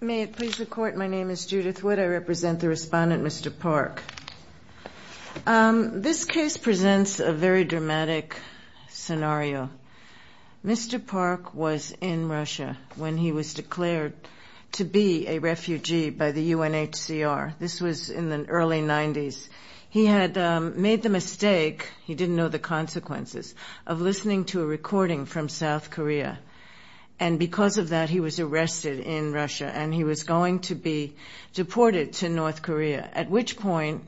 May it please the court, my name is Judith Wood. I represent the respondent, Mr. Park. This case presents a very dramatic scenario. Mr. Park was in Russia when he was declared to be a refugee by the UNHCR. This was in the early 90s. He had made the mistake, he didn't know the consequences, of listening to a recording from South Korea and because of that he was arrested in Russia and he was going to be deported to North Korea at which point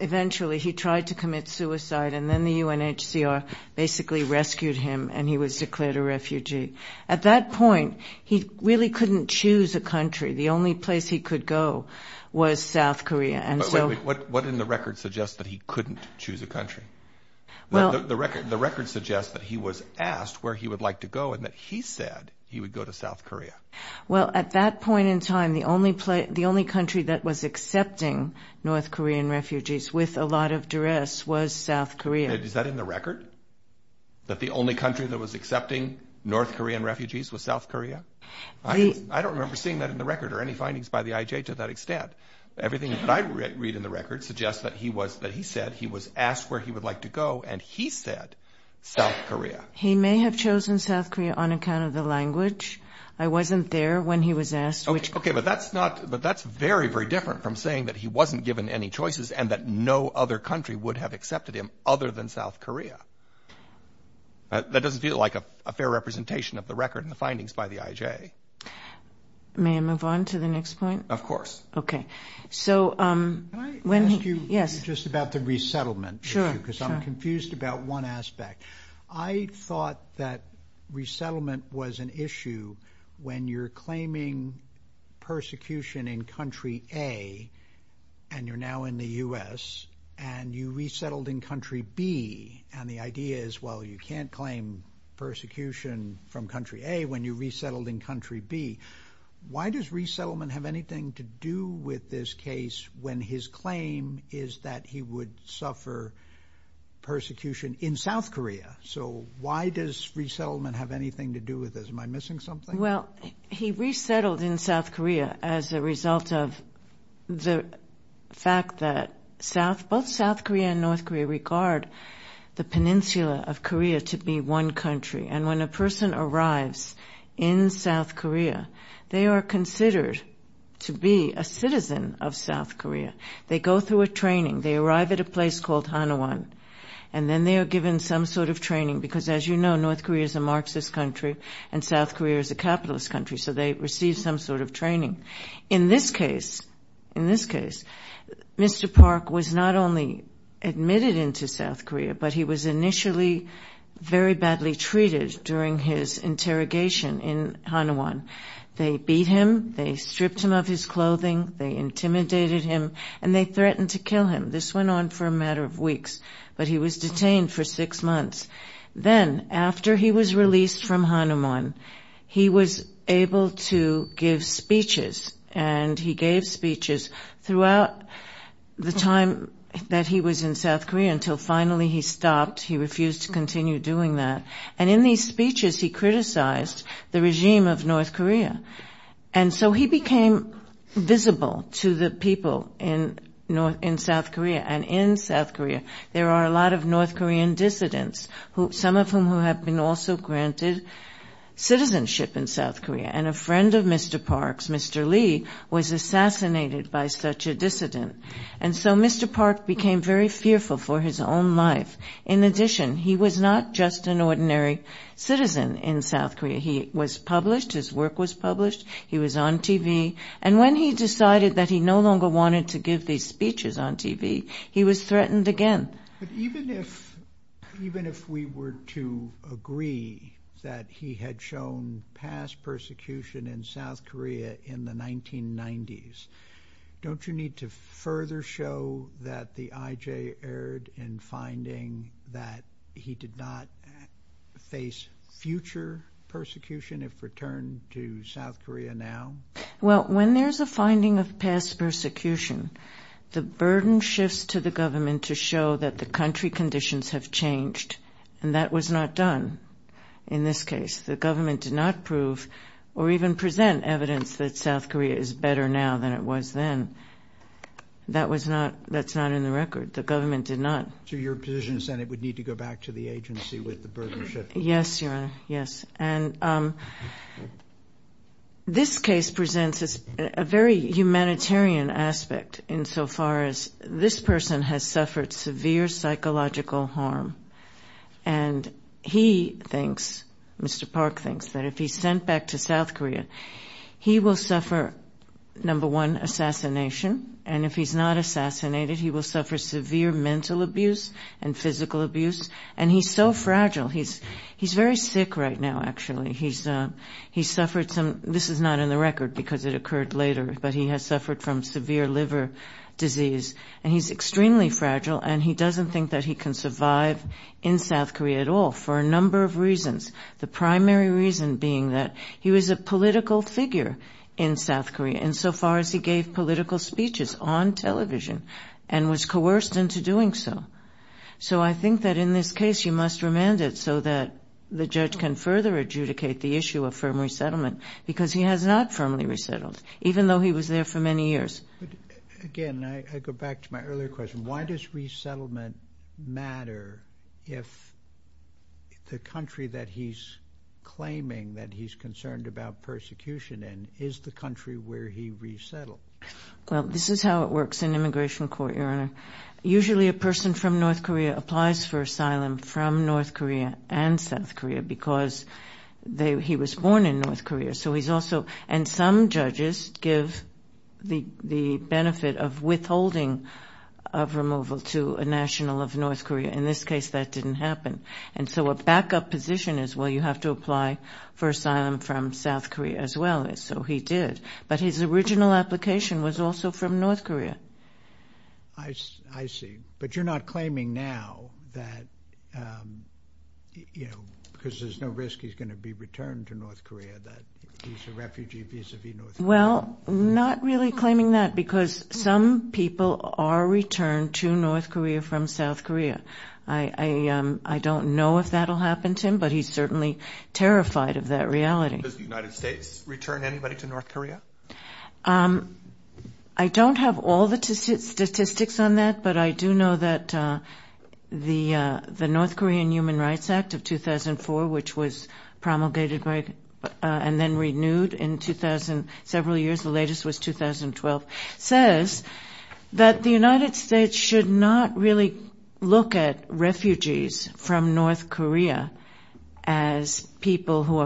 eventually he tried to commit suicide and then the UNHCR basically rescued him and he was declared a refugee. At that point he really couldn't choose a country. The only place he could go was South Korea. What in the record suggests that he couldn't choose a country? The record suggests that he was asked where he would like to go and that he said he would go to South Korea. Well at that point in time the only country that was accepting North Korean refugees with a lot of duress was South Korea. Is that in the record? That the only country that was accepting North Korean refugees was South Korea? I don't remember seeing that in the record or any findings by the IJ to that extent. Everything that I read in the record suggests that he was that he said he was asked where he would like to go and he said South Korea. He may have chosen South Korea on account of the language. I wasn't there when he was asked. Okay but that's not but that's very very different from saying that he wasn't given any choices and that no other country would have accepted him other than South Korea. That doesn't feel like a fair representation of the record and the findings by the IJ. May I move on to the next point? Of course. Can I ask you just about the resettlement issue because I'm confused about one aspect. I thought that resettlement was an issue when you're claiming persecution in country A and you're now in the U.S. and you resettled in country B and the idea is well you can't claim persecution from country A when you resettled in country B. Why does resettlement have anything to do with this case when his claim is that he would suffer persecution in South Korea? So why does resettlement have anything to do with this? Am I missing something? Well he resettled in South Korea as a result of the fact that both South Korea and North Korea regard the peninsula of Korea to be one country and when a person arrives in South Korea they are considered to be a citizen of South Korea. They go through a training. They arrive at a place called Hanawon and then they are given some sort of training because as you know North Korea is a Marxist country and South Korea is a capitalist country so they receive some sort of training. In this case Mr. Park was not only admitted into South Korea but he was initially very badly treated during his interrogation in Hanawon. They beat him. They stripped him of his clothing. They intimidated him and they threatened to kill him. This went on for a matter of weeks but he was detained for six months. Then after he was released from Hanawon he was able to give speeches and he gave speeches throughout the time that he was in South Korea until finally he stopped. He refused to continue doing that and in these speeches he criticized the regime of North Korea and so he became visible to the people in South Korea and in South Korea there are a lot of North Korean dissidents, some of whom who have been also granted citizenship in South Korea. Mr. Lee was assassinated by such a dissident and so Mr. Park became very fearful for his own life. In addition he was not just an ordinary citizen in South Korea. He was published. His work was published. He was on TV and when he decided that he no longer wanted to give these speeches on TV he was threatened again. Even if we were to agree that he had shown past persecution in South Korea in the 1990s don't you need to further show that the IJ erred in finding that he did not face future persecution if returned to South Korea now? Well when there's a finding of past persecution the burden shifts to the government to show that the country conditions have changed and that was not done in this case. The government did not prove or even present evidence that South Korea is better now than it was then. That's not in the record. The government did not. So your position is that it would need to go back to the agency with the burden shift? Yes, Your Honor. This case presents a very humanitarian aspect insofar as this person has suffered severe psychological harm and he thinks, Mr. Park thinks, that if he's sent back to South Korea he will suffer number one assassination and if he's not assassinated he will suffer severe mental abuse and physical abuse and he's so fragile. He's very sick right now actually. He's suffered some, this is not in the record because it occurred later, but he has and he doesn't think that he can survive in South Korea at all for a number of reasons. The primary reason being that he was a political figure in South Korea insofar as he gave political speeches on television and was coerced into doing so. So I think that in this case you must remand it so that the judge can further adjudicate the issue of firm resettlement because he has not even though he was there for many years. Again, I go back to my earlier question. Why does resettlement matter if the country that he's claiming that he's concerned about persecution in is the country where he resettled? Well, this is how it works in immigration court, Your Honor. Usually a person from North Korea applies for asylum from North Korea and South Korea because he was born in North Korea. So he's also, and some judges give the benefit of withholding of removal to a national of North Korea. In this case, that didn't happen. And so a backup position is, well, you have to apply for asylum from South Korea as well. So he did. But his original application was also from North Korea. I see. But you're not claiming now that, you know, because there's no risk he's going to be returned to North Korea, that he's a refugee vis-a-vis North Korea. Well, not really claiming that because some people are returned to North Korea from South Korea. I don't know if that'll happen to him, but he's certainly terrified of that reality. Does the United States return anybody to North Korea? I don't have all the statistics on that, but I do know that the North Korean Human Rights Act of 2004, which was promulgated and then renewed in 2000, several years, the latest was 2012, says that the United States should not really look at refugees from North Korea as people who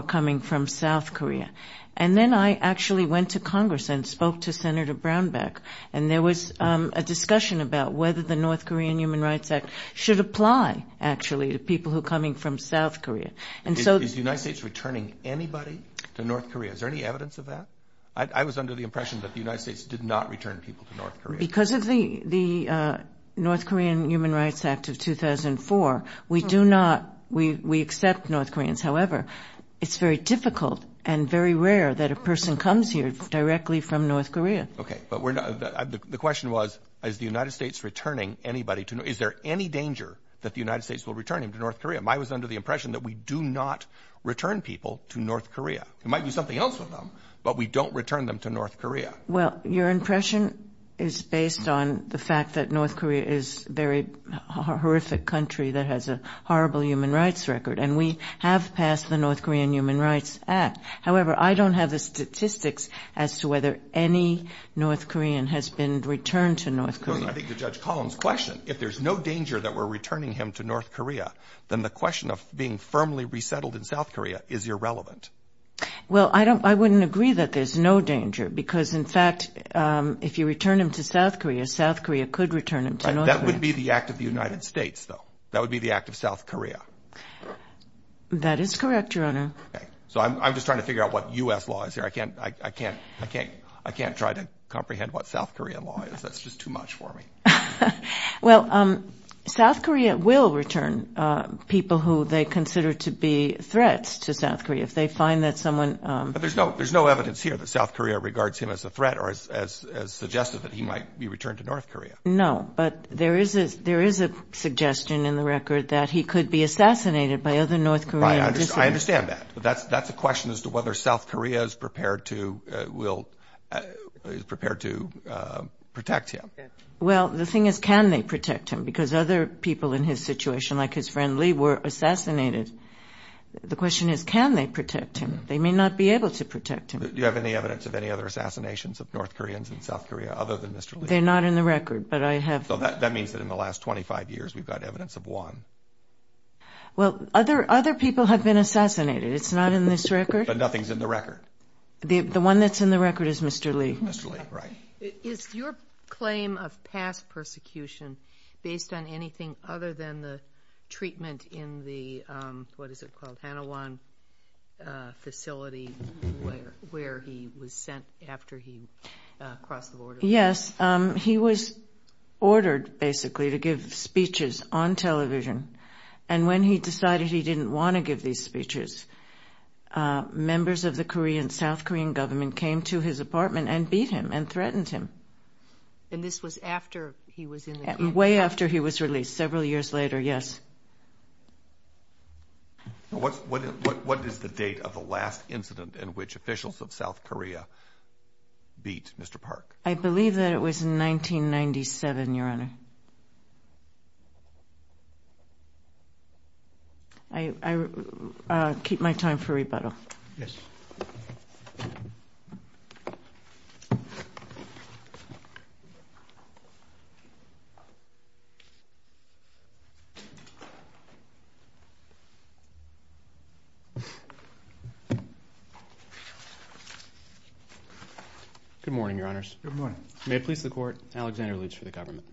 actually went to Congress and spoke to Senator Brownback. And there was a discussion about whether the North Korean Human Rights Act should apply, actually, to people who are coming from South Korea. Is the United States returning anybody to North Korea? Is there any evidence of that? I was under the impression that the United States did not return people to North Korea. Because of the North Korean Human Rights Act of 2004, we accept North Koreans. However, it's very difficult and very rare that a person comes here directly from North Korea. Okay. But the question was, is the United States returning anybody to North Korea? Is there any danger that the United States will return him to North Korea? I was under the impression that we do not return people to North Korea. It might be something else with them, but we don't return them to North Korea. Well, your impression is based on the fact that North Korea is a very horrific country that has a horrible human rights record. And we have passed the North Korean Human Rights Act. However, I don't have the statistics as to whether any North Korean has been returned to North Korea. I think the Judge Collins question, if there's no danger that we're returning him to North Korea, then the question of being firmly resettled in South Korea is irrelevant. Well, I wouldn't agree that there's no danger. Because in fact, if you return him to South Korea, South Korea could return him to North Korea. That would be the act of the United States though. That would be the act of South Korea. That is correct, Your Honor. So I'm just trying to figure out what U.S. law is here. I can't try to comprehend what South Korea law is. That's just too much for me. Well, South Korea will return people who they consider to be threats to South Korea. If they find that someone... But there's no evidence here that South Korea regards him as a threat or suggested that he might be returned to North Korea. No, but there is a suggestion in the record that he could be assassinated by other North Koreans. I understand that. But that's a question as to whether South Korea is prepared to protect him. Well, the thing is, can they protect him? Because other people in his situation, like his friend Lee, were assassinated. The question is, can they protect him? They may not be able to protect him. Do you have any evidence of any other assassinations of North Koreans in South Korea other than Mr. Lee? They're not in the record, but I have... So that means that in the last 25 years, we've got evidence of one. Well, other people have been assassinated. It's not in this record. But nothing's in the record. The one that's in the record is Mr. Lee. Mr. Lee, right. Is your claim of past persecution based on anything other than the treatment in the, what is it called, Hanawon facility where he was sent after he crossed the border? Yes. He was ordered, basically, to give speeches on television. And when he decided he didn't want to give these speeches, members of the South Korean government came to his apartment and beat him and threatened him. And this was after he was in the country? Way after he was released, several years later, yes. What is the date of the last incident in which officials of South Korea beat Mr. Park? I believe that it was in 1997, Your Honor. I keep my time for rebuttal. Yes. Good morning, Your Honors. May it please the Court. Alexander Lutz for the government.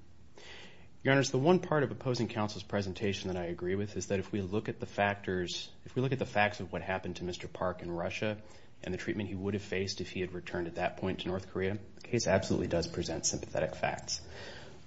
Your Honors, the one part of opposing counsel's presentation that I agree with is that if we look at the factors, if we look at the facts of what happened to Mr. Park in Russia and the treatment he would have faced if he had returned at that point to North Korea, the case absolutely does present sympathetic facts.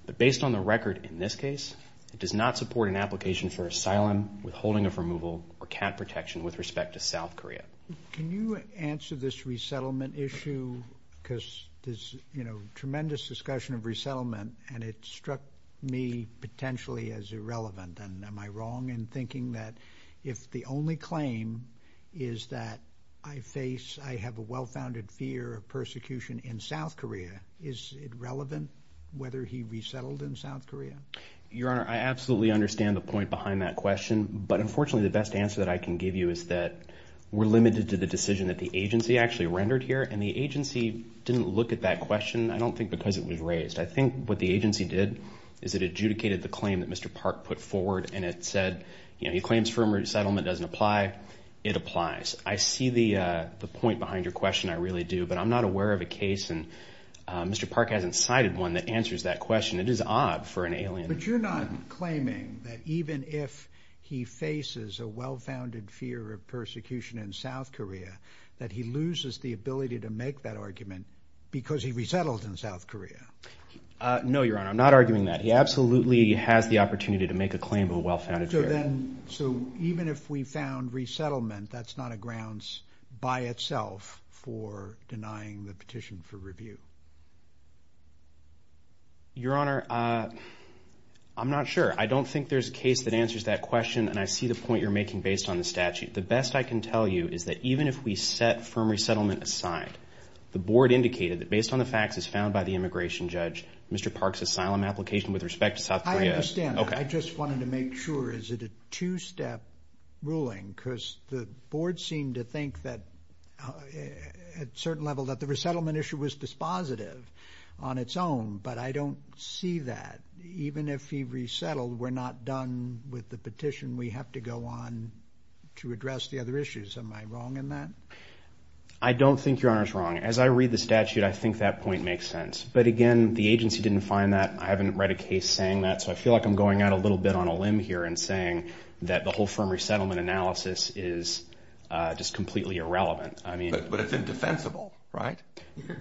But based on the record in this case, it does not support an application for asylum, withholding of removal, or camp protection with respect to South Korea. Can you answer this resettlement issue? Because there's, you know, tremendous discussion of resettlement and it struck me potentially as irrelevant. And am I wrong in thinking that if the only claim is that I face, I have a well-founded fear of persecution in South Korea, is it relevant whether he resettled in South Korea? Your Honor, I absolutely understand the point behind that question. But unfortunately, the best answer that I can give you is that we're limited to the decision that the agency actually rendered here. And the agency didn't look at that question. I don't think because it was raised. I think what the agency did is it adjudicated the claim that Mr. Park put forward and it said, you know, he claims firm resettlement doesn't apply. It applies. I see the point behind your question. I really do. But I'm not aware of a case and Mr. Park hasn't cited one that answers that question. It is odd for an alien. But you're not claiming that even if he faces a well-founded fear of persecution in South Korea, that he loses the ability to make that argument because he resettled in South Korea? No, Your Honor. I'm not arguing that. He absolutely has the opportunity to make a claim of a well-founded fear. So even if we found resettlement, that's not a grounds by itself for denying the petition for review? Your Honor, I'm not sure. I don't think there's a case that answers that question. And I see the point you're making based on the statute. The best I can tell you is that even if we set firm resettlement aside, the board indicated that based on the facts as found by the immigration judge, Mr. Park's asylum application with respect to South Korea. I understand. I just wanted to make sure. Is it a two-step ruling? Because the board seemed to think that at a certain level that the resettlement issue was dispositive on its own. But I don't see that. Even if he resettled, we're not done with the petition. We have to go on to address the other issues. Am I wrong in that? I don't think Your Honor's wrong. As I read the statute, I think that point makes sense. But again, the agency didn't find that. I haven't read a case saying that. So I feel like I'm going out a little bit on a limb here and saying that the whole firm resettlement analysis is just completely irrelevant. But it's indefensible, right?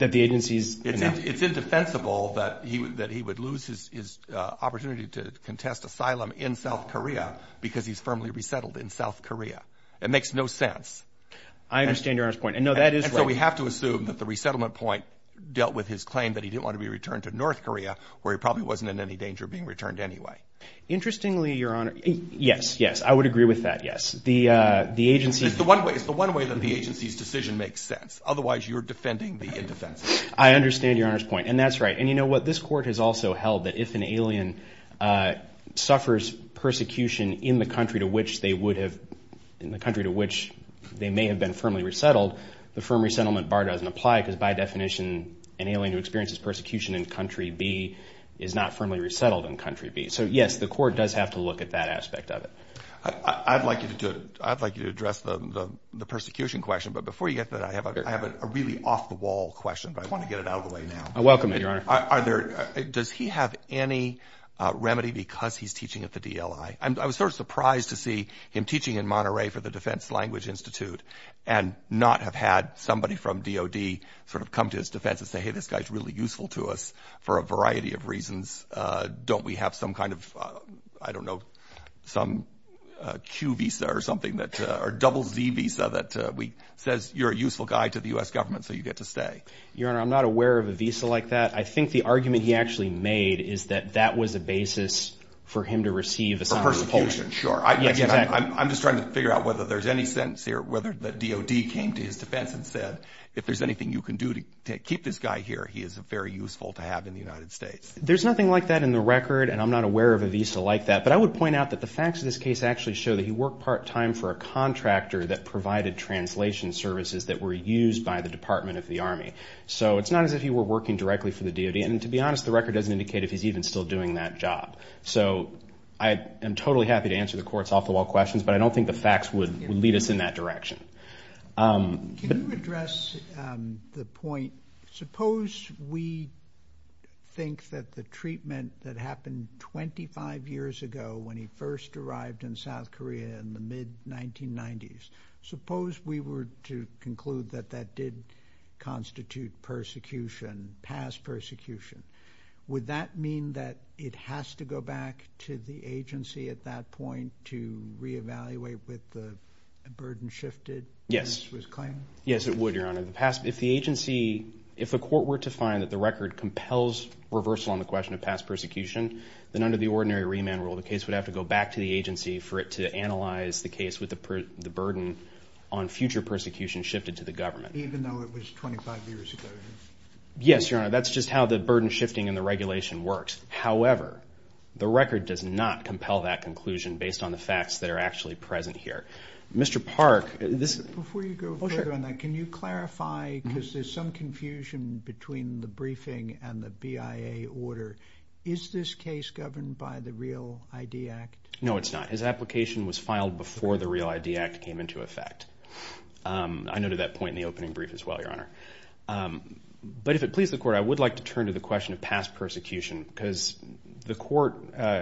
That the agency's... It's indefensible that he would lose his opportunity to contest asylum in South Korea because he's firmly resettled in South Korea. It makes no sense. I understand Your Honor's point. And no, that is right. So we have to assume that the resettlement point dealt with his claim that he didn't want to be returned to North Korea, where he probably wasn't in any danger of being returned anyway. Interestingly, Your Honor, yes, yes. I would agree with that, yes. The agency... It's the one way that the agency's decision makes sense. Otherwise, you're defending the indefense. I understand Your Honor's point. And that's right. And you know what? This Court has also held that if an alien suffers persecution in the country to which they would have... In the country to which they may have been firmly resettled, the firm resettlement bar doesn't apply because by definition, an alien who experiences persecution in country B is not firmly resettled in country B. So yes, the Court does have to look at that aspect of it. I'd like you to do it. I'd like you to address the persecution question. But before you get to that, I have a really off the wall question, but I want to get it out of the way now. I welcome it, Your Honor. Are there... Does he have any remedy because he's teaching at the DLI? I was sort of surprised to see him teaching in Monterey for the Defense Language Institute and not have had somebody from DOD sort of come to his defense and say, hey, this guy's really useful to us for a variety of reasons. Don't we have some kind of, I don't know, some Q visa or something that... You're a useful guy to the U.S. government, so you get to stay. Your Honor, I'm not aware of a visa like that. I think the argument he actually made is that that was a basis for him to receive asylum. Persecution, sure. I'm just trying to figure out whether there's any sense here, whether the DOD came to his defense and said, if there's anything you can do to keep this guy here, he is very useful to have in the United States. There's nothing like that in the record, and I'm not aware of a visa like that. But I would point out that the facts of this case actually show that he worked part time for a contractor that provided translation services that were used by the Department of the Army. So it's not as if he were working directly for the DOD, and to be honest, the record doesn't indicate if he's even still doing that job. So I am totally happy to answer the court's off-the-wall questions, but I don't think the facts would lead us in that direction. Can you address the point, suppose we think that the treatment that happened 25 years ago when he first arrived in South Korea in the mid-1990s, suppose we were to conclude that that did constitute persecution, past persecution, would that mean that it has to go back to the agency at that point to re-evaluate with the burden shifted? Yes, it would, Your Honor. If the agency, if the court were to find that the record compels reversal on the question of past persecution, then under the ordinary remand rule, the case would have to go back to the agency for it to analyze the case with the burden on future persecution shifted to the government. Even though it was 25 years ago? Yes, Your Honor. That's just how the burden shifting and the regulation works. However, the record does not compel that conclusion based on the facts that are actually present here. Mr. Park, this... Before you go further on that, can you clarify, because there's some confusion between the Is this case governed by the Real ID Act? No, it's not. His application was filed before the Real ID Act came into effect. I noted that point in the opening brief as well, Your Honor. But if it pleases the court, I would like to turn to the question of past persecution because the court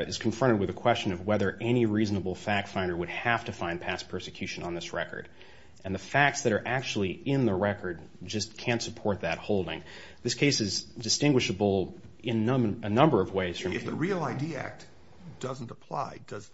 is confronted with a question of whether any reasonable fact finder would have to find past persecution on this record. And the facts that are actually in the record just can't support that holding. This case is distinguishable in a number of ways. If the Real ID Act doesn't apply, does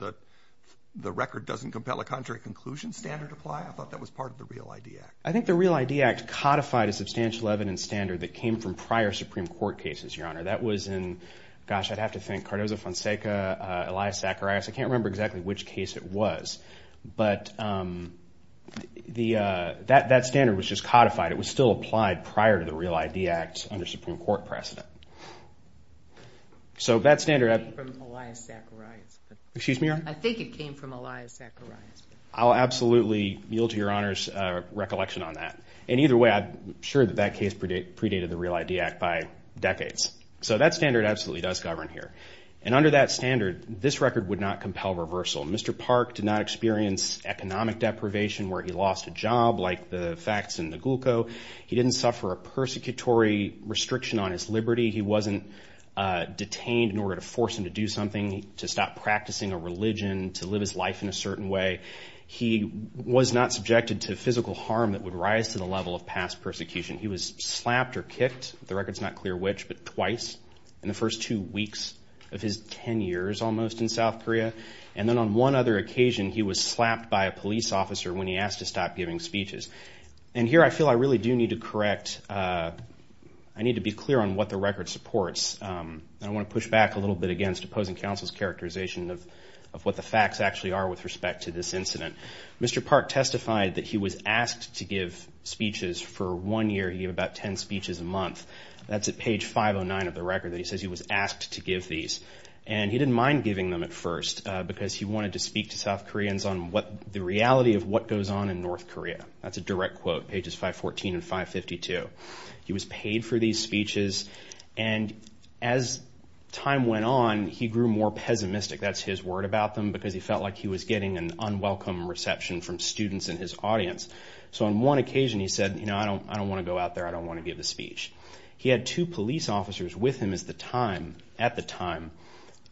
the record doesn't compel a contrary conclusion standard apply? I thought that was part of the Real ID Act. I think the Real ID Act codified a substantial evidence standard that came from prior Supreme Court cases, Your Honor. That was in, gosh, I'd have to think, Cardozo, Fonseca, Elias, Zacharias. I can't remember exactly which case it was. But that standard was just codified. It was still applied prior to the Real ID Act under Supreme Court precedent. So that standard- It came from Elias Zacharias. Excuse me, Your Honor? I think it came from Elias Zacharias. I'll absolutely yield to Your Honor's recollection on that. And either way, I'm sure that that case predated the Real ID Act by decades. So that standard absolutely does govern here. And under that standard, this record would not compel reversal. Mr. Park did not experience economic deprivation where he lost a job like the facts in the He didn't suffer a persecutory restriction on his liberty. He wasn't detained in order to force him to do something, to stop practicing a religion, to live his life in a certain way. He was not subjected to physical harm that would rise to the level of past persecution. He was slapped or kicked, the record's not clear which, but twice in the first two weeks of his 10 years almost in South Korea. And then on one other occasion, he was slapped by a police officer when he asked to stop giving speeches. And here I feel I really do need to correct, I need to be clear on what the record supports. And I want to push back a little bit against opposing counsel's characterization of what the facts actually are with respect to this incident. Mr. Park testified that he was asked to give speeches for one year. He had about 10 speeches a month. That's at page 509 of the record that he says he was asked to give these. And he didn't mind giving them at first because he wanted to speak to South Koreans on what the reality of what goes on in North Korea. That's a direct quote, pages 514 and 552. He was paid for these speeches. And as time went on, he grew more pessimistic. That's his word about them because he felt like he was getting an unwelcome reception from students in his audience. So on one occasion, he said, you know, I don't want to go out there. I don't want to give the speech. He had two police officers with him at the time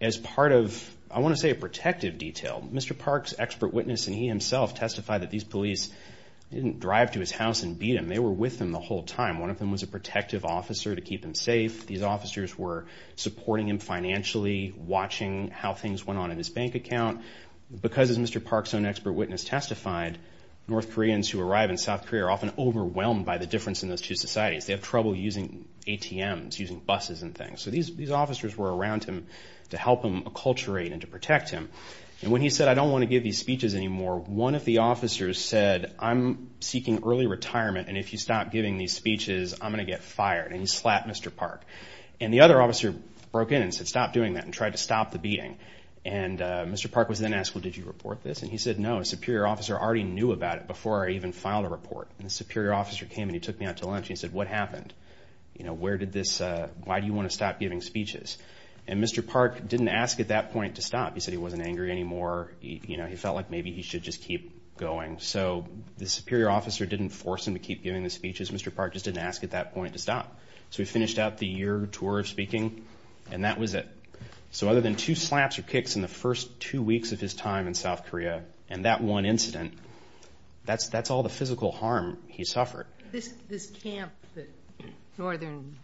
as part of, I want to say, a protective detail. Mr. Park's expert witness and he himself testified that these police didn't drive to his house and beat him. They were with him the whole time. One of them was a protective officer to keep him safe. These officers were supporting him financially, watching how things went on in his bank account. Because, as Mr. Park's own expert witness testified, North Koreans who arrive in South Korea are often overwhelmed by the difference in those two societies. They have trouble using ATMs, using buses and things. So these officers were around him to help him acculturate and to protect him. And when he said, I don't want to give these speeches anymore, one of the officers said, I'm seeking early retirement. And if you stop giving these speeches, I'm going to get fired. And he slapped Mr. Park. And the other officer broke in and said, stop doing that and tried to stop the beating. And Mr. Park was then asked, well, did you report this? And he said, no, a superior officer already knew about it before I even filed a report. And the superior officer came and he took me out to lunch. He said, what happened? You know, where did this, why do you want to stop giving speeches? And Mr. Park didn't ask at that point to stop. He said he wasn't angry anymore. You know, he felt like maybe he should just keep going. So the superior officer didn't force him to keep giving the speeches. Mr. Park just didn't ask at that point to stop. So we finished out the year tour of speaking and that was it. So other than two slaps or kicks in the first two weeks of his time in South Korea and that one incident, that's all the physical harm he suffered. This camp that Northern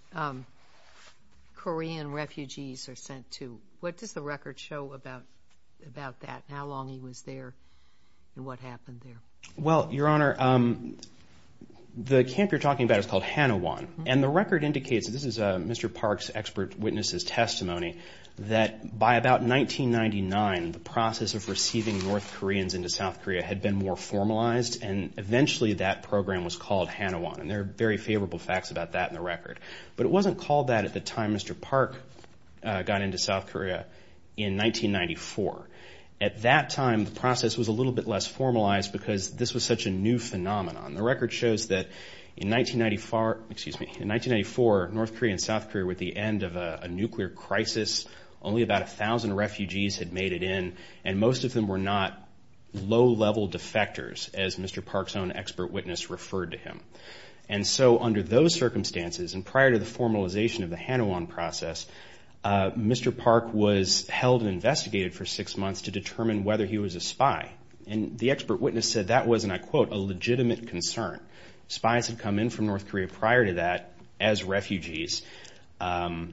Korean refugees are sent to, what does the record show about that? How long he was there and what happened there? Well, Your Honor, the camp you're talking about is called Hanawon. And the record indicates, this is Mr. Park's expert witness's testimony, that by about 1999, the process of receiving North Koreans into South Korea had been more formalized. And eventually, that program was called Hanawon. And there are very favorable facts about that in the record. But it wasn't called that at the time Mr. Park got into South Korea in 1994. At that time, the process was a little bit less formalized because this was such a new phenomenon. The record shows that in 1994, North Korea and South Korea were at the end of a nuclear crisis. Only about 1,000 refugees had made it in. And most of them were not low-level defectors, as Mr. Park's own expert witness referred to him. And so under those circumstances, and prior to the formalization of the Hanawon process, Mr. Park was held and investigated for six months to determine whether he was a spy. And the expert witness said that was, and I quote, a legitimate concern. Spies had come in from North Korea prior to that as refugees. And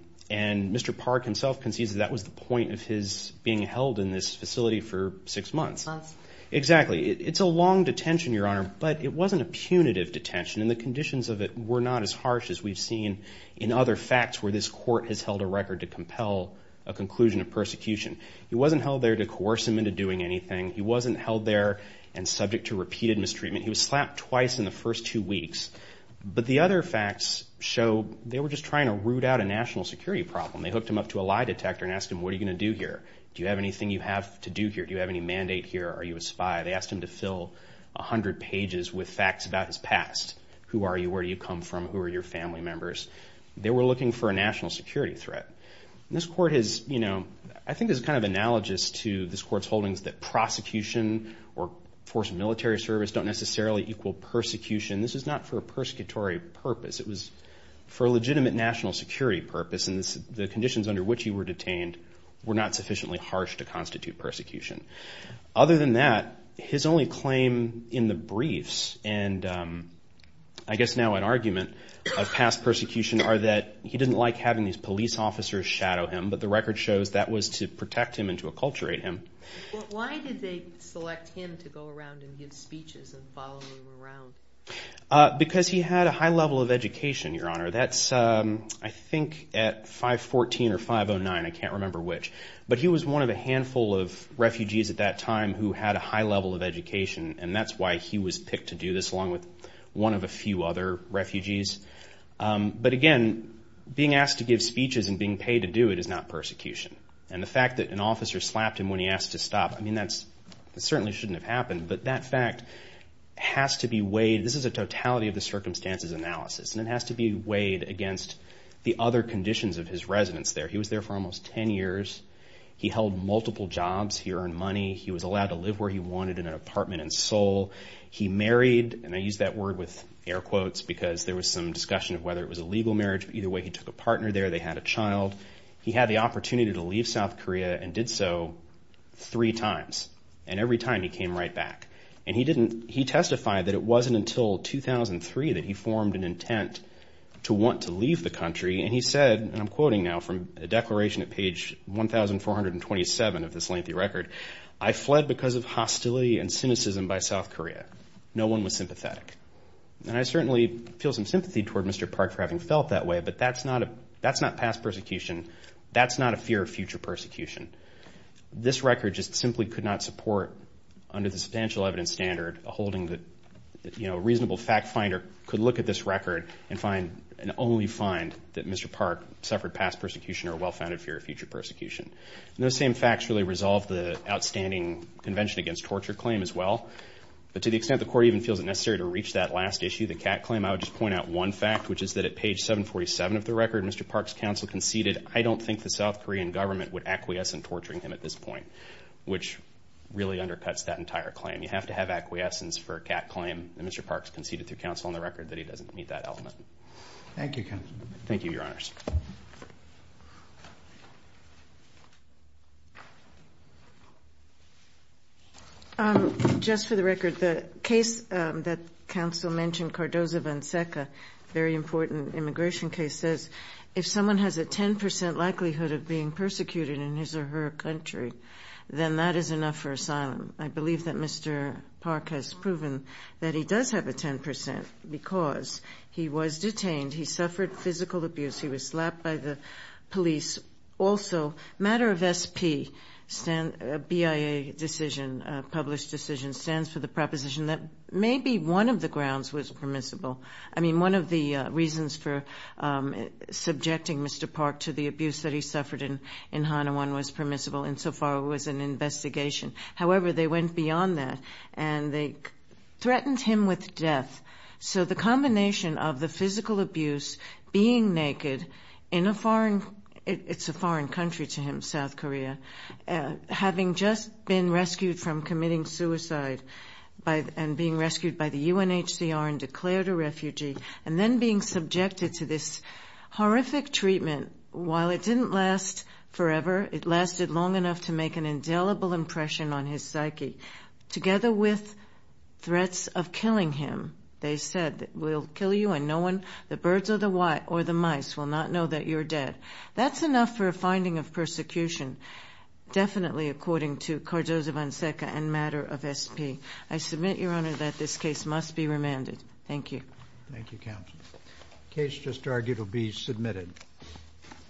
Mr. Park himself concedes that that was the point of his being held in this facility for six months. Six months. Exactly. It's a long detention, Your Honor. But it wasn't a punitive detention. And the conditions of it were not as harsh as we've seen in other facts where this court has held a record to compel a conclusion of persecution. He wasn't held there to coerce him into doing anything. He wasn't held there and subject to repeated mistreatment. He was slapped twice in the first two weeks. But the other facts show they were just trying to root out a national security problem. They hooked him up to a lie detector and asked him, what are you going to do here? Do you have anything you have to do here? Do you have any mandate here? Are you a spy? They asked him to fill 100 pages with facts about his past. Who are you? Where do you come from? Who are your family members? They were looking for a national security threat. This court has, you know, I think is kind of analogous to this court's holdings that prosecution or force of military service don't necessarily equal persecution. This is not for a persecutory purpose. It was for a legitimate national security purpose. The conditions under which he were detained were not sufficiently harsh to constitute persecution. Other than that, his only claim in the briefs and I guess now an argument of past persecution are that he didn't like having these police officers shadow him. But the record shows that was to protect him and to acculturate him. Why did they select him to go around and give speeches and follow him around? Because he had a high level of education, Your Honor. That's I think at 514 or 509, I can't remember which. But he was one of a handful of refugees at that time who had a high level of education. And that's why he was picked to do this along with one of a few other refugees. But again, being asked to give speeches and being paid to do it is not persecution. And the fact that an officer slapped him when he asked to stop, I mean, that certainly shouldn't have happened. But that fact has to be weighed. This is a totality of the circumstances analysis. And it has to be weighed against the other conditions of his residence there. He was there for almost 10 years. He held multiple jobs. He earned money. He was allowed to live where he wanted in an apartment in Seoul. He married. And I use that word with air quotes because there was some discussion of whether it was a legal marriage. But either way, he took a partner there. They had a child. He had the opportunity to leave South Korea and did so three times. And every time he came right back. And he testified that it wasn't until 2003 that he formed an intent to want to leave the country. And he said, and I'm quoting now from a declaration at page 1427 of this lengthy record, I fled because of hostility and cynicism by South Korea. No one was sympathetic. And I certainly feel some sympathy toward Mr. Park for having felt that way. But that's not past persecution. That's not a fear of future persecution. This record just simply could not support, under the substantial evidence standard, holding that a reasonable fact finder could look at this record and only find that Mr. Park suffered past persecution or well-founded fear of future persecution. And those same facts really resolve the outstanding Convention Against Torture claim as well. But to the extent the court even feels it necessary to reach that last issue, the CAT claim, I would just point out one fact, which is that at page 747 of the record, Mr. Park's South Korean government would acquiesce in torturing him at this point, which really undercuts that entire claim. You have to have acquiescence for a CAT claim. And Mr. Park's conceded through counsel on the record that he doesn't meet that element. Thank you, counsel. Thank you, Your Honors. Just for the record, the case that counsel mentioned, Cardozo-Vanceca, very important immigration case, says if someone has a 10 percent likelihood of being persecuted in his or her country, then that is enough for asylum. I believe that Mr. Park has proven that he does have a 10 percent because he was detained. He suffered physical abuse. He was slapped by the police. Also, matter of SP, BIA decision, published decision, stands for the proposition that maybe one of the grounds was permissible. I mean, one of the reasons for subjecting Mr. Park to the abuse that he suffered in Hanawon was permissible insofar as it was an investigation. However, they went beyond that and they threatened him with death. So the combination of the physical abuse, being naked in a foreign, it's a foreign country to him, South Korea, having just been rescued from committing suicide and being and then being subjected to this horrific treatment, while it didn't last forever, it lasted long enough to make an indelible impression on his psyche, together with threats of killing him. They said, we'll kill you and no one, the birds or the mice, will not know that you're dead. That's enough for a finding of persecution, definitely according to Cardozo-Vanceca and matter of SP. I submit, Your Honor, that this case must be remanded. Thank you. Thank you, Counsel. The case just argued will be submitted.